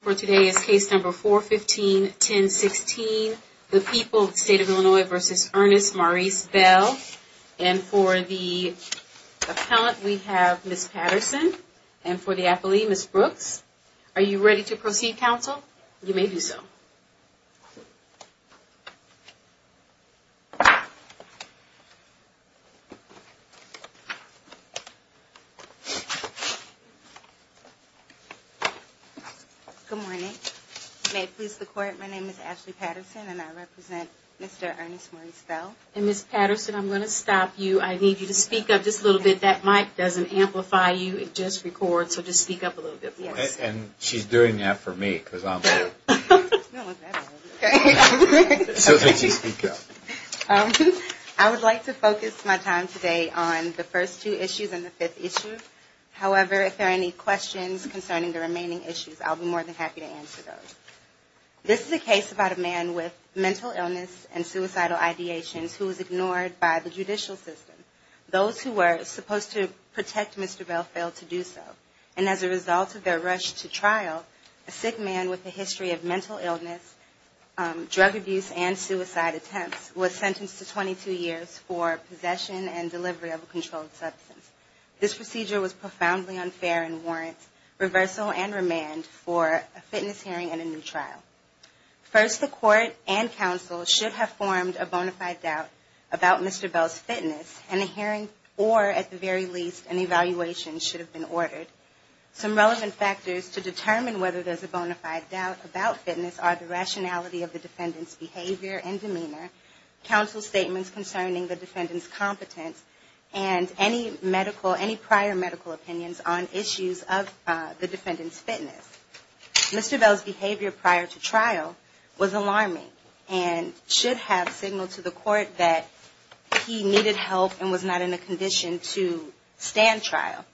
For today is case number 415-1016, The People, State of Illinois v. Ernest Maurice Bell. And for the appellant, we have Ms. Patterson. And for the affilee, Ms. Brooks. Are you ready to proceed, counsel? You may do so. Good morning. May it please the Court, my name is Ashley Patterson, and I represent Mr. Ernest Maurice Bell. And Ms. Patterson, I'm going to stop you. I need you to speak up just a little bit. That mic doesn't amplify you, it just records, so just speak up a little bit. And she's doing that for me, because I'm here. No, it's not for me. So, would you speak up? I would like to focus my time today on the first two issues and the fifth issue. However, if there are any questions concerning the remaining issues, I'll be more than happy to answer those. This is a case about a man with mental illness and suicidal ideations who was ignored by the judicial system. Those who were supposed to protect Mr. Bell failed to do so. And as a result of their rush to trial, a sick man with a history of mental illness, drug abuse, and suicide attempts, was sentenced to 22 years for possession and delivery of a controlled substance. This procedure was profoundly unfair and warrants reversal and remand for a fitness hearing and a new trial. First, the court and counsel should have formed a bona fide doubt about Mr. Bell's fitness, and a hearing or, at the very least, an evaluation should have been ordered. Some relevant factors to determine whether there's a bona fide doubt about fitness are the rationality of the defendant's behavior and demeanor, counsel's statements concerning the defendant's competence, and any prior medical opinions on issues of the defendant's fitness. Mr. Bell's behavior prior to trial was alarming and should have signaled to the court that he needed help and was not in a condition to stand trial.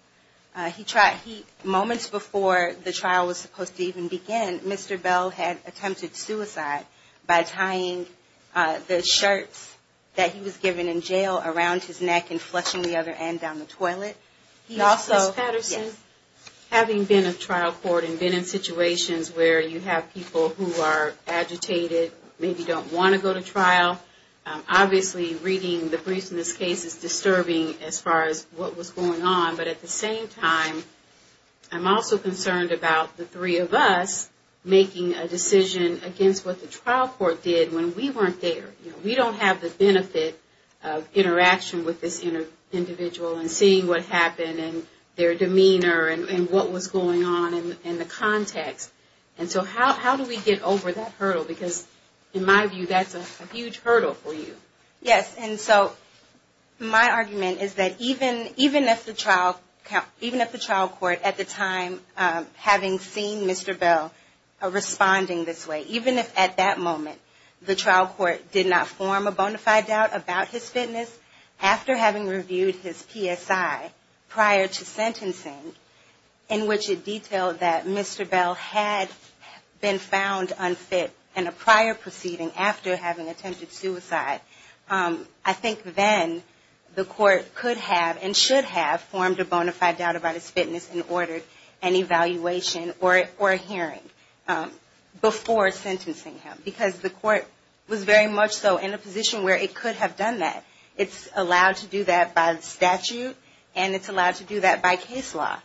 Moments before the trial was supposed to even begin, Mr. Bell had attempted suicide by tying the shirts that he was given in jail around his neck and flushing the other end down the toilet. Ms. Patterson, having been in trial court and been in situations where you have people who are agitated, maybe don't want to go to trial, obviously reading the briefs in this case is disturbing as far as what was going on. But at the same time, I'm also concerned about the three of us making a decision against what the trial court did when we weren't there. We don't have the benefit of interaction with this individual and seeing what happened and their demeanor and what was going on in the context. And so how do we get over that hurdle? Because in my view, that's a huge hurdle for you. Yes, and so my argument is that even if the trial court at the time, having seen Mr. Bell responding this way, even if at that moment the trial court did not form a bona fide doubt about his fitness, after having reviewed his PSI prior to sentencing, in which it detailed that Mr. Bell had been found unfit in a prior proceeding after having attempted suicide, I think then the court could have and should have formed a bona fide doubt about his fitness and ordered an evaluation or a hearing before sentencing him. Because the court was very much so in a position where it could have done that. It's allowed to do that by statute and it's allowed to do that by case law.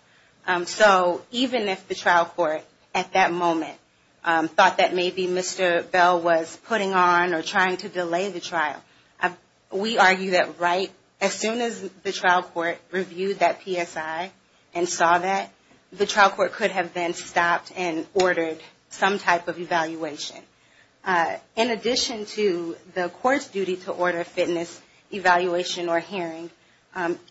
So even if the trial court at that moment thought that maybe Mr. Bell was putting on or trying to delay the trial, we argue that right as soon as the trial court reviewed that PSI and saw that, the trial court could have then stopped and ordered some type of evaluation. In addition to the court's duty to order a fitness evaluation or hearing,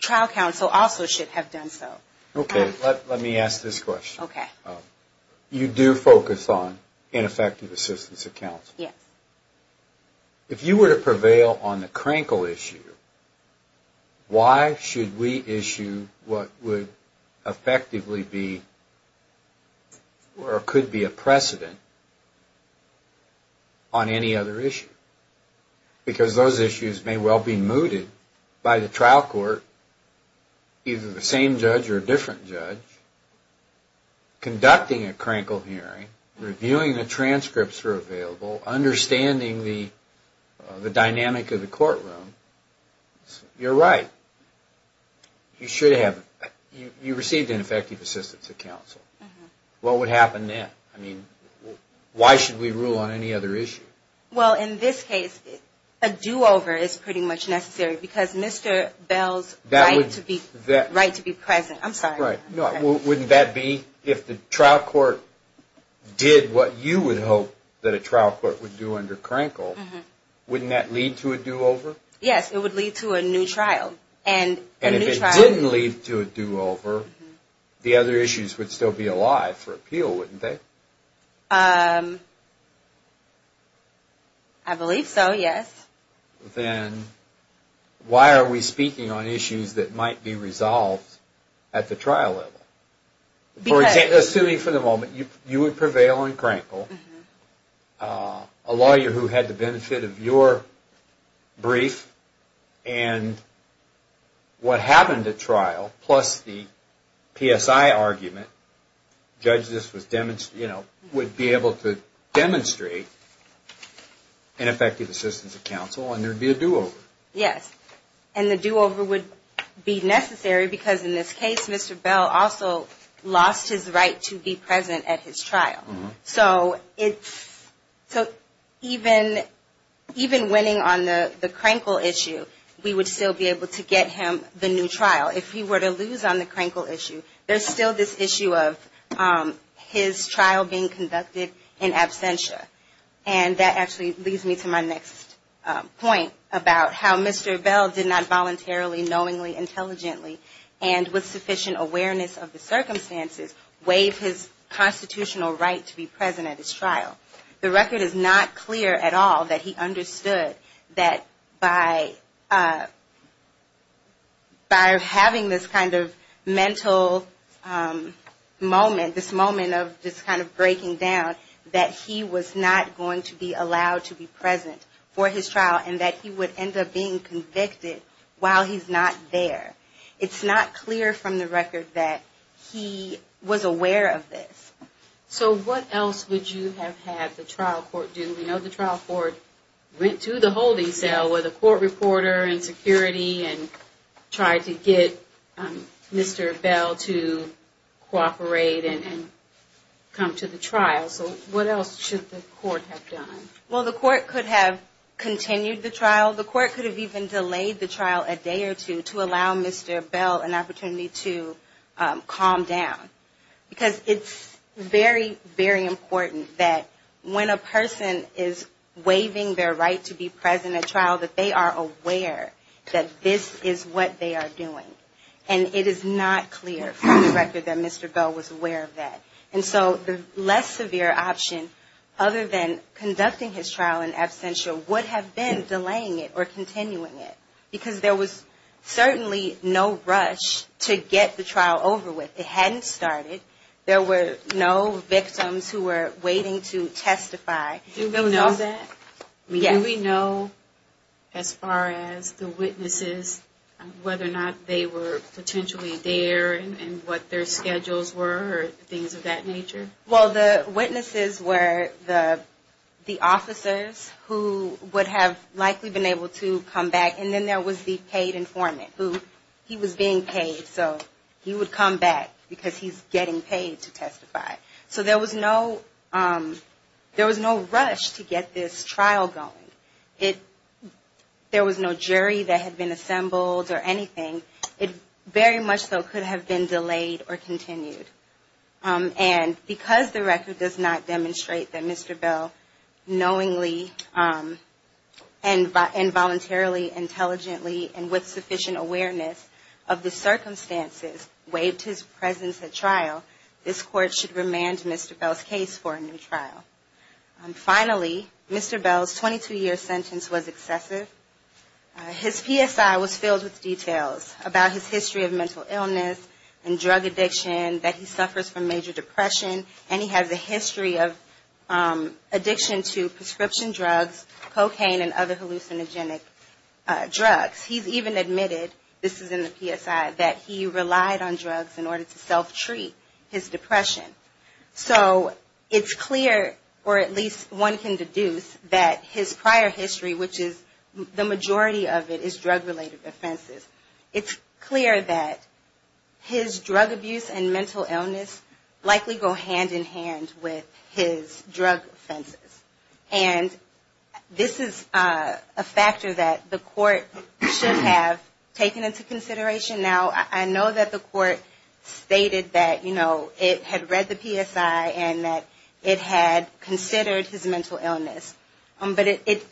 trial counsel also should have done so. Okay, let me ask this question. Okay. You do focus on ineffective assistance of counsel. Yes. If you were to prevail on the Krankel issue, why should we issue what would effectively be or could be a precedent on any other issue? Because those issues may well be mooted by the trial court, either the same judge or a different judge, conducting a Krankel hearing, reviewing the transcripts that are available, understanding the dynamic of the courtroom. You're right. You should have. You received ineffective assistance of counsel. What would happen then? I mean, why should we rule on any other issue? Well, in this case, a do-over is pretty much necessary because Mr. Bell's right to be present. I'm sorry. Wouldn't that be if the trial court did what you would hope that a trial court would do under Krankel, wouldn't that lead to a do-over? Yes, it would lead to a new trial. And if it didn't lead to a do-over, the other issues would still be alive for appeal, wouldn't they? I believe so, yes. Then why are we speaking on issues that might be resolved at the trial level? Assuming for the moment you would prevail on Krankel, a lawyer who had the benefit of your brief and what happened at trial, plus the PSI argument, judge would be able to demonstrate ineffective assistance of counsel and there would be a do-over. Yes, and the do-over would be necessary because in this case, Mr. Bell also lost his right to be present at his trial. So even winning on the Krankel issue, we would still be able to get him the new trial. If he were to lose on the Krankel issue, there's still this issue of his trial being conducted in absentia. And that actually leads me to my next point about how Mr. Bell did not voluntarily, knowingly, intelligently, and with sufficient awareness of the circumstances, waive his constitutional right to be present at his trial. The record is not clear at all that he understood that by having this kind of mental moment, this moment of just kind of breaking down, that he was not going to be allowed to be present for his trial and that he would end up being convicted while he's not there. It's not clear from the record that he was aware of this. So what else would you have had the trial court do? We know the trial court went to the holding cell with a court reporter and security and tried to get Mr. Bell to cooperate and come to the trial. So what else should the court have done? Well, the court could have continued the trial. Well, the court could have even delayed the trial a day or two to allow Mr. Bell an opportunity to calm down. Because it's very, very important that when a person is waiving their right to be present at trial, that they are aware that this is what they are doing. And it is not clear from the record that Mr. Bell was aware of that. And so the less severe option, other than conducting his trial in absentia, would have been delaying it or continuing it. Because there was certainly no rush to get the trial over with. It hadn't started. There were no victims who were waiting to testify. Do we know that? Well, the witnesses were the officers who would have likely been able to come back. And then there was the paid informant who he was being paid. So he would come back because he's getting paid to testify. So there was no rush to get this trial going. There was no jury that had been assembled or anything. It very much so could have been delayed or continued. And because the record does not demonstrate that Mr. Bell knowingly and voluntarily, intelligently, and with sufficient awareness of the circumstances waived his presence at trial, this Court should remand Mr. Bell's case for a new trial. Finally, Mr. Bell's 22-year sentence was excessive. His PSI was filled with details about his history of mental illness and drug addiction, that he suffers from major depression, and he has a history of addiction to prescription drugs, cocaine, and other hallucinogenic drugs. He's even admitted, this is in the PSI, that he relied on drugs in order to self-treat his depression. So it's clear, or at least one can deduce, that his prior history, which is more or less of a mental health history, and the majority of it is drug-related offenses, it's clear that his drug abuse and mental illness likely go hand-in-hand with his drug offenses. And this is a factor that the Court should have taken into consideration. Now, I know that the Court stated that, you know, it had read the PSI and that it had considered his mental illness. But it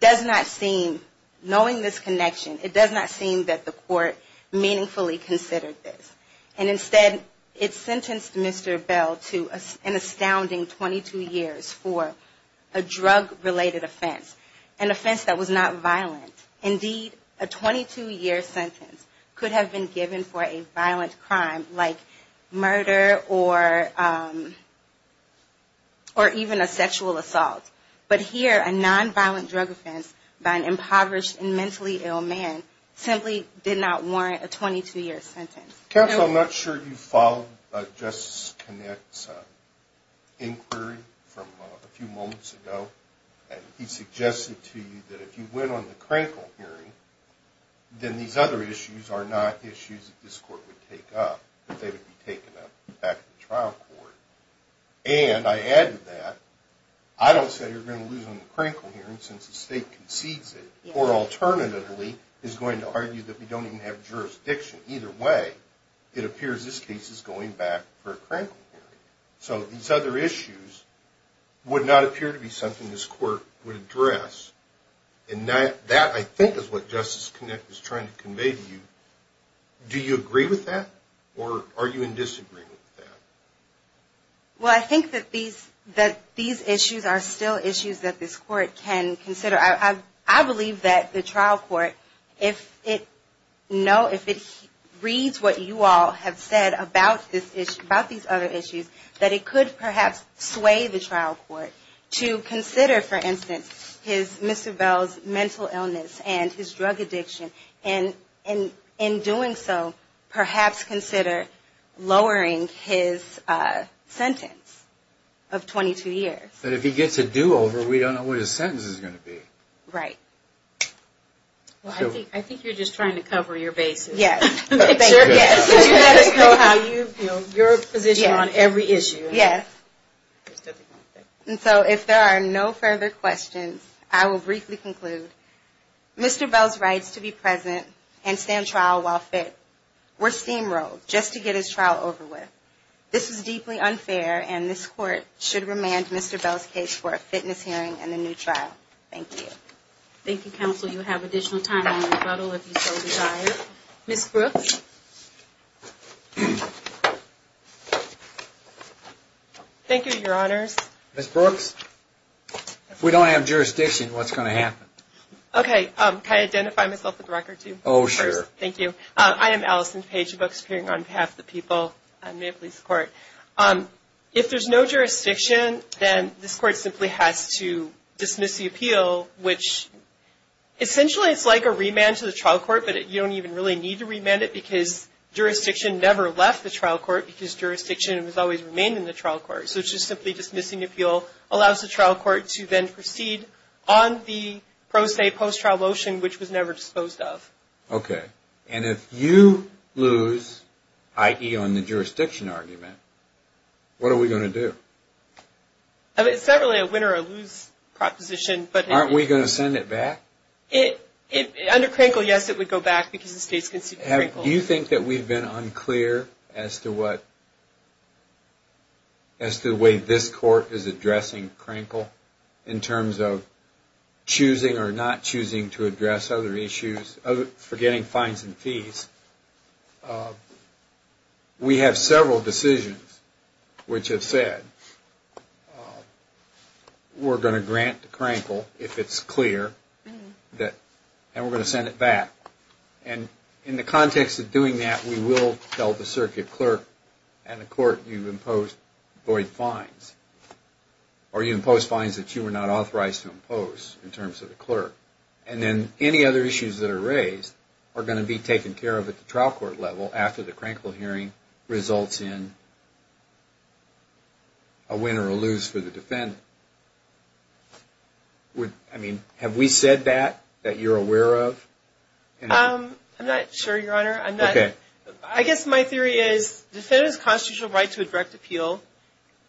does not seem, knowing this connection, it does not seem that the Court meaningfully considered this. And instead, it sentenced Mr. Bell to an astounding 22 years for a drug-related offense, an offense that was not violent. Indeed, a 22-year sentence could have been given for a violent crime like murder or even a sexual assault. But here, a non-violent drug offense by an impoverished and mentally ill man simply did not warrant a 22-year sentence. Counsel, I'm not sure if you followed Justice Connett's inquiry from a few moments ago. He suggested to you that if you went on the Krankel hearing, then these other issues are not issues that this Court would take up, that they would be taken up back in the trial court. Now, he's not going to argue that we're going to lose on the Krankel hearing since the State concedes it. Or alternatively, he's going to argue that we don't even have jurisdiction. Either way, it appears this case is going back for a Krankel hearing. So these other issues would not appear to be something this Court would address. And that, I think, is what Justice Connett was trying to convey to you. Do you agree with that? Or are you in disagreement with that? Well, I think that these issues are still issues that this Court can consider. I believe that the trial court, if it reads what you all have said about these other issues, that it could perhaps sway the trial court to consider, for instance, Mr. Bell's mental illness and his drug addiction. And in doing so, perhaps consider lowering his sentence of 22 years. But if he gets a do-over, we don't know what his sentence is going to be. Right. Well, I think you're just trying to cover your bases. Yes. And so if there are no further questions, I will briefly conclude. Mr. Bell's rights to be present and stay on trial while fit were steamrolled just to get his trial over with. This is deeply unfair, and this Court should remand Mr. Bell's case for a fitness hearing and a new trial. Thank you. Thank you, Counsel. You have additional time in the rebuttal, if you so desire. Ms. Brooks? Thank you, Your Honors. If we don't have jurisdiction, what's going to happen? Okay. Can I identify myself with the record, too? Oh, sure. Thank you. I am Allison Paige Brooks, appearing on behalf of the people at Maple Leaf Court. If there's no jurisdiction, then this Court simply has to dismiss the appeal, which essentially it's like a remand to the trial court, but you don't even really need to remand it because jurisdiction never left the trial court because jurisdiction has always remained in the trial court. So just simply dismissing the appeal allows the trial court to then proceed on the pro se post-trial motion, which was never disposed of. Okay. And if you lose, i.e. on the jurisdiction argument, what are we going to do? It's not really a win or a lose proposition, but... Aren't we going to send it back? Under Crankle, yes, it would go back because the state's conceived of Crankle. Do you think that we've been unclear as to what, as to the way this Court is addressing Crankle in terms of choosing or not choosing to address other issues, forgetting fines and fees? We have several decisions which have said, we're going to grant Crankle if it's clear, and we're going to send it back. And in the context of doing that, we will tell the circuit clerk and the court, you've imposed void fines, or you've imposed fines that you were not authorized to impose in terms of the clerk. And then any other issues that are raised are going to be taken care of at the trial court level after the Crankle hearing results in a win or a lose for the defendant. I mean, have we said that, that you're aware of? I'm not sure, Your Honor. I guess my theory is, the defendant has a constitutional right to a direct appeal,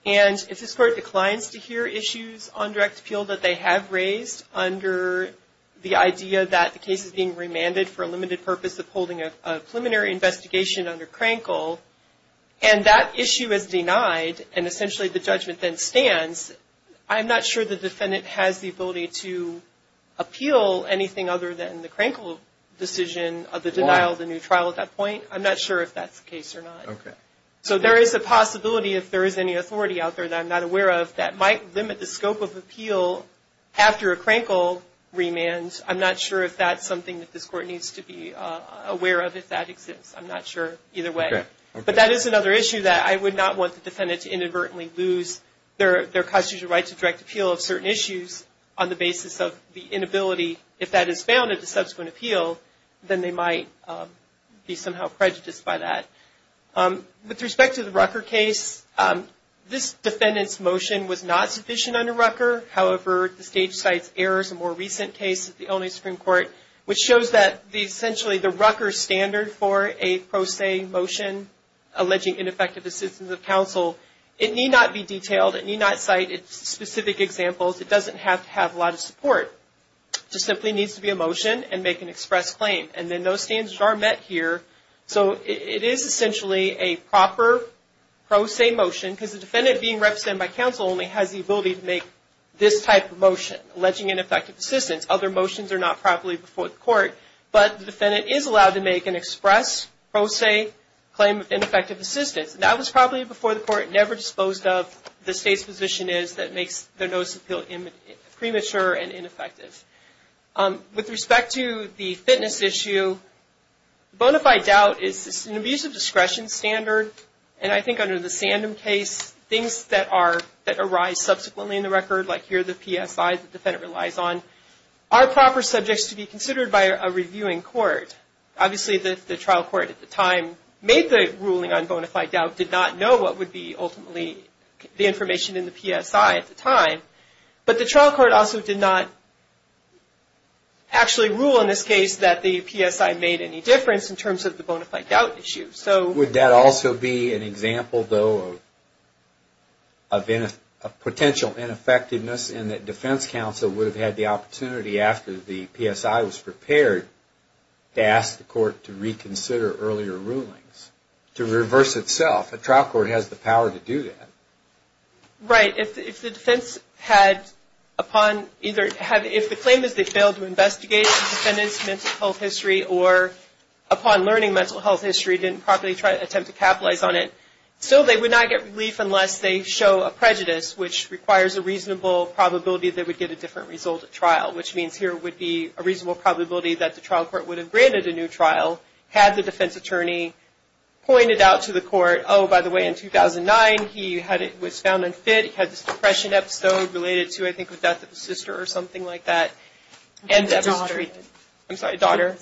and if this Court declines to hear issues on direct appeal that they have raised under the idea that the case is being remanded for a limited purpose of holding a preliminary investigation under Crankle, and that issue is denied, and essentially the judgment then stands, I'm not sure the defendant has the ability to appeal anything other than the Crankle decision of the denial of the new trial at that point. I'm not sure if that's the case or not. So there is a possibility, if there is any authority out there that I'm not aware of, that might limit the scope of appeal after a Crankle remand. I'm not sure if that's something that this Court needs to be aware of, if that exists. I'm not sure. Either way. But that is another issue that I would not want the defendant to inadvertently lose their constitutional right to direct appeal of certain issues on the basis of the inability, if that is found at the subsequent appeal, then they might be somehow prejudiced by that. With respect to the Rucker case, this defendant's motion was not sufficient under Rucker. However, the Stage Cites Errors, a more recent case at the Illinois Supreme Court, which shows that essentially the Rucker standard for a pro se motion alleging ineffective assistance of counsel, it need not be detailed, it need not cite specific examples, it doesn't have to have a lot of support. It just simply needs to be a motion and make an express claim. And then those standards are met here, so it is essentially a proper pro se motion, because the defendant being represented by counsel only has the ability to make this type of motion, alleging ineffective assistance. Other motions are not properly before the Court, but the defendant is allowed to make an express pro se claim of ineffective assistance. That was probably before the Court never disposed of the State's position is that makes their notice of appeal premature and ineffective. With respect to the fitness issue, bona fide doubt is an abusive discretion standard, and I think under the Sandem case, things that arise subsequently in the record, like here the PSI the defendant relies on, are proper subjects to be considered by a reviewing court. Obviously the trial court at the time made the ruling on bona fide doubt, did not know what would be ultimately the information in the PSI at the time, but the trial court also did not actually rule in this case that the PSI made any difference in terms of the bona fide doubt issue. Would that also be an example, though, of potential ineffectiveness, in that defense counsel would have had the opportunity after the PSI was prepared to ask the Court to reconsider earlier rulings, to reverse itself? A trial court has the power to do that. If the claim is they failed to investigate the defendant's mental health history or upon learning mental health history didn't properly attempt to capitalize on it, still they would not get relief unless they show a prejudice, which requires a reasonable probability they would get a different result at trial, which means here would be a reasonable probability that the trial court would have granted a new trial had the defense attorney pointed out to the court, oh, by the way, in 2009 he was found unfit, he had this depression episode related to, I think, the death of his sister or something like that. I'm sorry, daughter.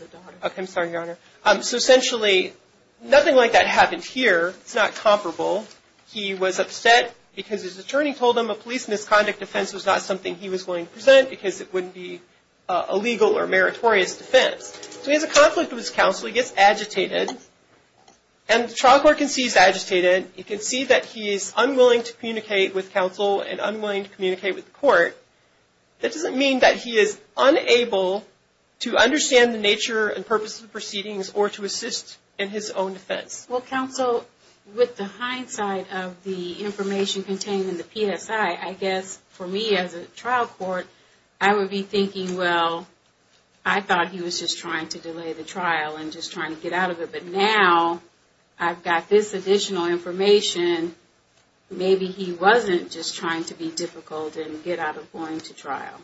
I'm sorry, Your Honor. So essentially nothing like that happened here. It's not comparable. He was upset because his attorney told him a police misconduct defense was not something he was willing to present because it wouldn't be a legal or meritorious defense. So he has a conflict with his counsel. He gets agitated, and the trial court can see he's agitated. It can see that he is unwilling to communicate with counsel and unwilling to communicate with the court. That doesn't mean that he is unable to understand the nature and purpose of the proceedings or to assist in his own defense. Well, counsel, with the hindsight of the information contained in the PSI, I guess for me as a trial court, I would be thinking, well, I thought he was just trying to delay the trial and just trying to get out of it. But now I've got this additional information. Maybe he wasn't just trying to be difficult and get out of going to trial.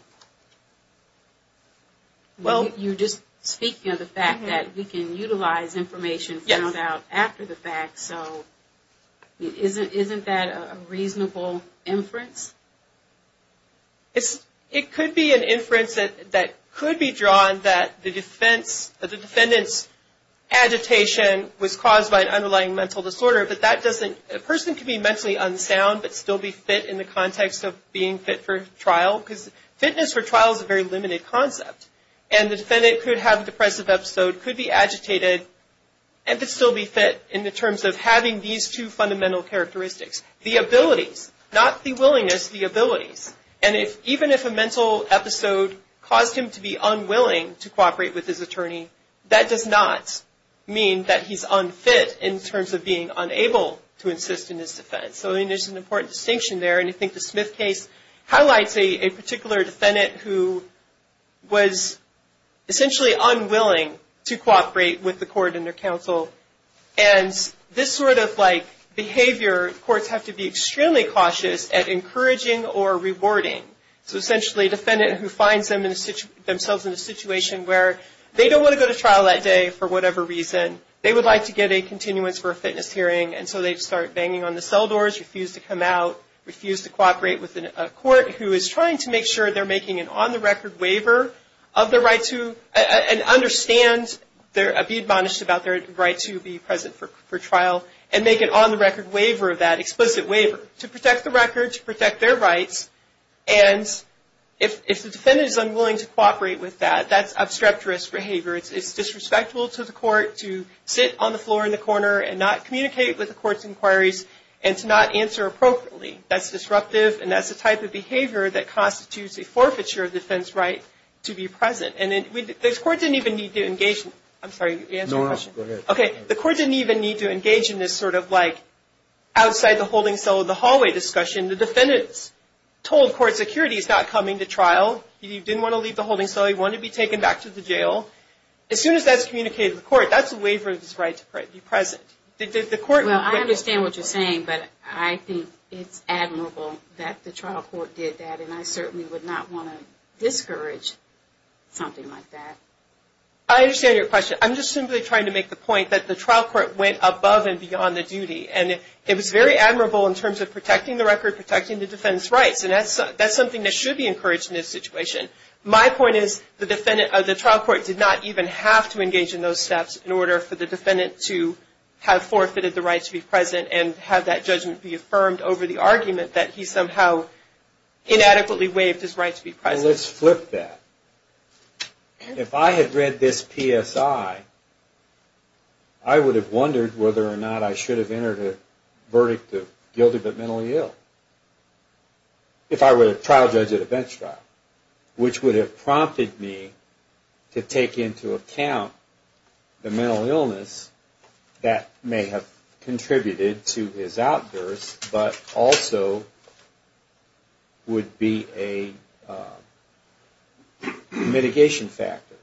You're just speaking of the fact that we can utilize information found out after the fact. So isn't that a reasonable inference? It could be an inference that could be drawn that the defendant's agitation was caused by an underlying mental disorder. But a person can be mentally unsound but still be fit in the context of being fit for trial. Because fitness for trial is a very limited concept. And the defendant could have a depressive episode, could be agitated, and could still be fit in the terms of having these two fundamental characteristics. The abilities, not the willingness, the abilities. And even if a mental episode caused him to be unwilling to cooperate with his attorney, that does not mean that he's unfit in terms of being unable to assist in his defense. So there's an important distinction there. And I think the Smith case highlights a particular defendant who was essentially unwilling to cooperate with the court and their counsel. And this sort of behavior, courts have to be extremely cautious at encouraging or rewarding. So essentially a defendant who finds themselves in a situation where they don't want to go to trial that day for whatever reason. They would like to get a continuance for a fitness hearing, and so they start banging on the cell doors, refuse to come out, refuse to cooperate with a court who is trying to make sure they're making an on-the-record waiver of their right to, and understand, be admonished about their right to be present for trial, and make an on-the-record waiver of that, explicit waiver, to protect the record, to protect their rights. And if the defendant is unwilling to cooperate with that, that's obstreperous behavior. It's disrespectful to the court to sit on the floor in the corner and not communicate with the court's inquiries, and to not answer appropriately. That's disruptive, and that's the type of behavior that constitutes a forfeiture of defense right to be present. And the court didn't even need to engage in this sort of like outside the holding cell of the hallway discussion. The defendant's told court security he's not coming to trial. He didn't want to leave the holding cell. He wanted to be taken back to the jail. As soon as that's communicated to the court, that's a waiver of his right to be present. Well, I understand what you're saying, but I think it's admirable that the trial court did that, and I certainly would not want to discourage something like that. I understand your question. I'm just simply trying to make the point that the trial court went above and beyond the duty, and it was very admirable in terms of protecting the record, protecting the defendant's rights, and that's something that should be encouraged in this situation. My point is the trial court did not even have to engage in those steps in order for the defendant to have forfeited the right to be present and have that judgment be affirmed over the argument that he somehow inadequately waived his right to be present. Well, let's flip that. If I had read this PSI, I would have wondered whether or not I should have entered a verdict of guilty but mentally ill. If I were a trial judge at a bench trial. Which would have prompted me to take into account the mental illness that may have contributed to his outburst, but also would be a... mitigation factor.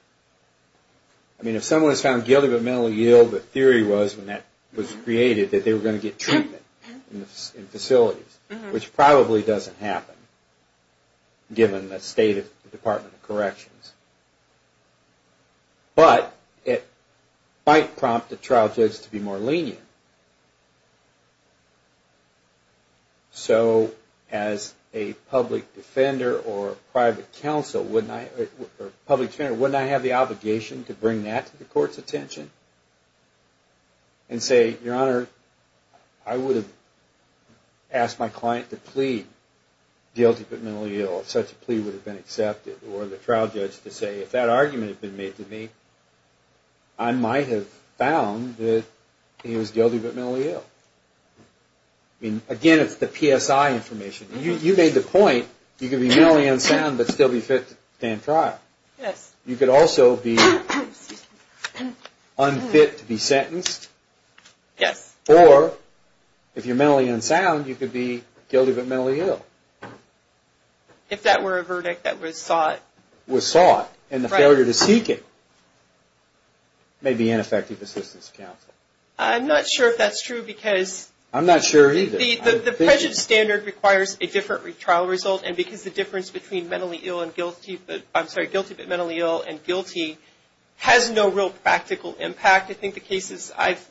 I mean, if someone was found guilty but mentally ill, the theory was, when that was created, that they were going to get treatment in facilities, which probably doesn't happen, given the state of the Department of Corrections. But it might prompt the trial judge to be more lenient. So, as a public defender or a private counsel, wouldn't I have the obligation to bring that to the court's attention? And say, Your Honor, I would have asked my client to plead guilty but mentally ill if such a plea would have been accepted. Or the trial judge to say, if that argument had been made to me, I might have found that he was guilty but mentally ill. Again, it's the PSI information. You made the point, you could be mentally unsound but still be fit to stand trial. You could also be unfit to be sentenced. Or, if you're mentally unsound, you could be guilty but mentally ill. If that were a verdict that was sought. And the failure to seek it may be ineffective assistance to counsel. I'm not sure if that's true, because... I'm not sure either. The present standard requires a different trial result, and because the difference between mentally ill and guilty, I'm sorry, guilty but mentally ill and guilty, has no real practical impact. In fact, I think the cases I've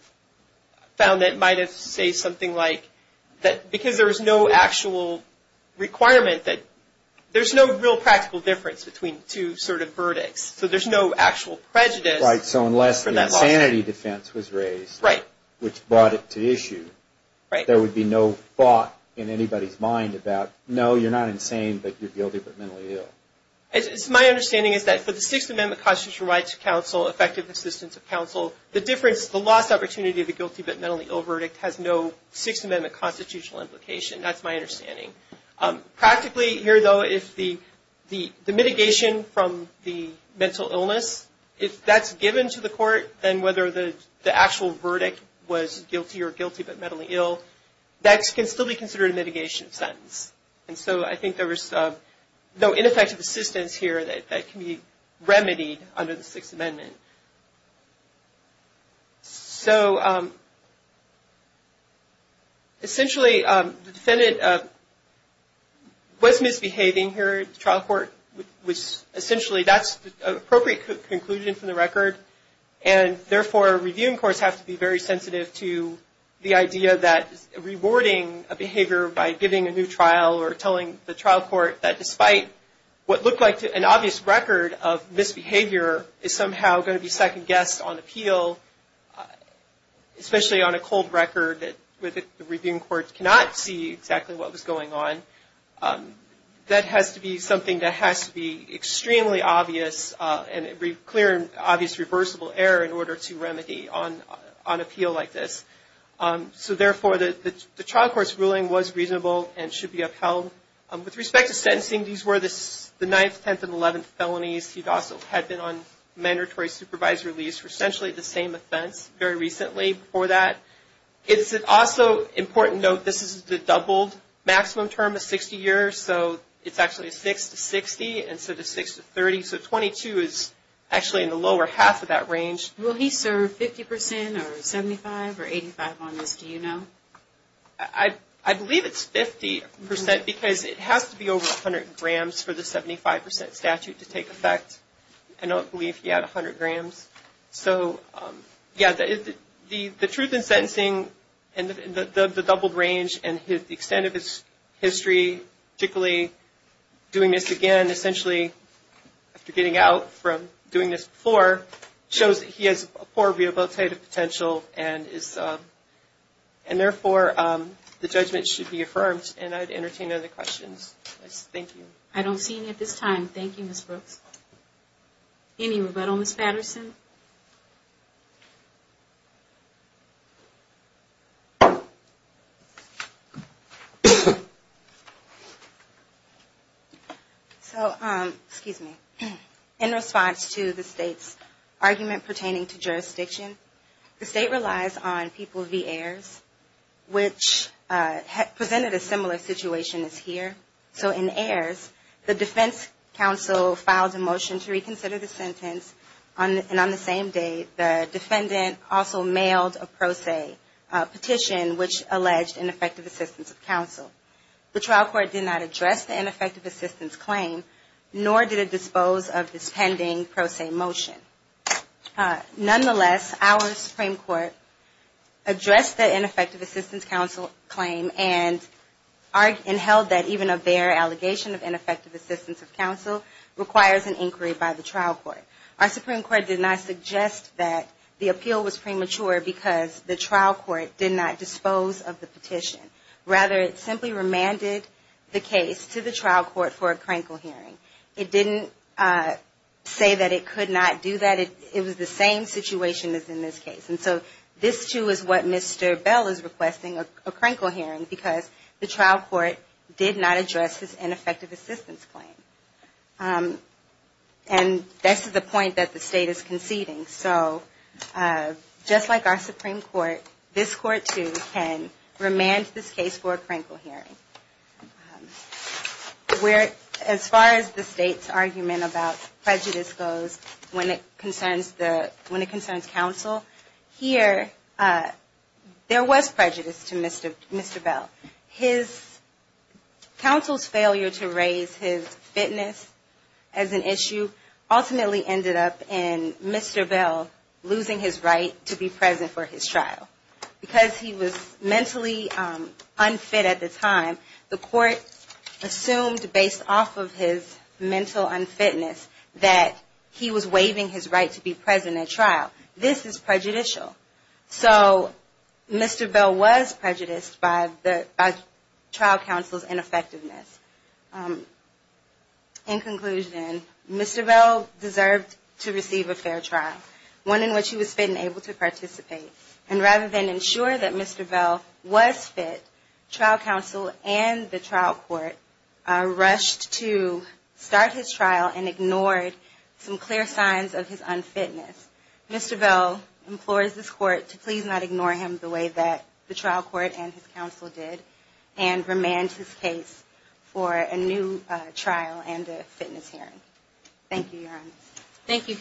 found that might have said something like, because there is no actual requirement that... There's no real practical difference between two sort of verdicts, so there's no actual prejudice. Right, so unless the insanity defense was raised, which brought it to issue, there would be no thought in anybody's mind about, no, you're not insane, but you're guilty but mentally ill. My understanding is that for the Sixth Amendment constitutional right to counsel, effective assistance of counsel, the difference, the lost opportunity of the guilty but mentally ill verdict has no Sixth Amendment constitutional implication. That's my understanding. Practically, here though, if the mitigation from the mental illness, if that's given to the court, then whether the actual verdict was guilty or guilty but mentally ill, that can still be considered a mitigation sentence. So I think there was no ineffective assistance here that can be remedied under the Sixth Amendment. So essentially, the defendant was misbehaving here at the trial court, which essentially that's an appropriate conclusion from the record, and therefore, reviewing courts have to be very sensitive to the idea that rewarding a behavior by giving a new trial or telling the trial court that despite what looked like an obvious record of misbehavior, is somehow going to be second-guessed on appeal, especially on a cold record where the reviewing court cannot see exactly what was going on. That has to be something that has to be extremely obvious and clear and obvious reversal. There has to be a reversible error in order to remedy on appeal like this. So therefore, the trial court's ruling was reasonable and should be upheld. With respect to sentencing, these were the 9th, 10th, and 11th felonies. He also had been on mandatory supervisory release for essentially the same offense very recently for that. It's also important to note this is the doubled maximum term of 60 years, so it's actually a 6 to 60 instead of 6 to 30. So 22 is actually in the lower half of that range. Will he serve 50 percent or 75 or 85 on this? Do you know? I believe it's 50 percent because it has to be over 100 grams for the 75 percent statute to take effect. I don't believe he had 100 grams. So, yeah, the truth in sentencing and the doubled range and the extent of his history, particularly doing this again, essentially after getting out from doing this before, shows that he has a poor rehabilitative potential and therefore the judgment should be affirmed. And I'd entertain other questions. Thank you. I don't see any at this time. Thank you, Ms. Brooks. Any rebuttal, Ms. Patterson? So, excuse me. In response to the State's argument pertaining to jurisdiction, the State relies on people v. heirs, which presented a similar situation as here. So in heirs, the defense counsel filed a motion to reconsider the sentence, and on the same day the defendant also mailed a pro se petition, which alleged ineffective assistance of counsel. The trial court did not address the ineffective assistance claim, nor did it dispose of this pending pro se motion. Nonetheless, our Supreme Court addressed the ineffective assistance counsel claim and held that even a bare allegation of ineffective assistance of counsel requires an inquiry by the trial court. Our Supreme Court did not suggest that the appeal was premature because the trial court did not dispose of the petition. Rather, it simply remanded the case to the trial court for a crankle hearing. It didn't say that it could not do that. It was the same situation as in this case. And so this, too, is what Mr. Bell is requesting, a crankle hearing, because the trial court did not address this ineffective assistance claim. And that's the point that the State is conceding. So just like our Supreme Court, this Court, too, can remand this case for a crankle hearing. As far as the State's argument about prejudice goes, when it concerns counsel, here, there was prejudice to Mr. Bell. His counsel's failure to raise his fitness as an issue ultimately ended up in Mr. Bell losing his right to be present for his trial. Because he was mentally unfit at the time, the Court assumed, based off of his mental unfitness, that he was waiving his right to be present at trial. This is prejudicial. So Mr. Bell was prejudiced by trial counsel's ineffectiveness. In conclusion, Mr. Bell deserved to receive a fair trial, one in which he was fit and able to participate. And rather than ensure that Mr. Bell was fit, trial counsel and the trial court rushed to start his trial and ignored some clear signs of his unfitness. Mr. Bell implores this Court to please not ignore him the way that the trial court and his counsel did, and remand his case for a new trial and a fitness hearing. Thank you, Your Honor. Thank you.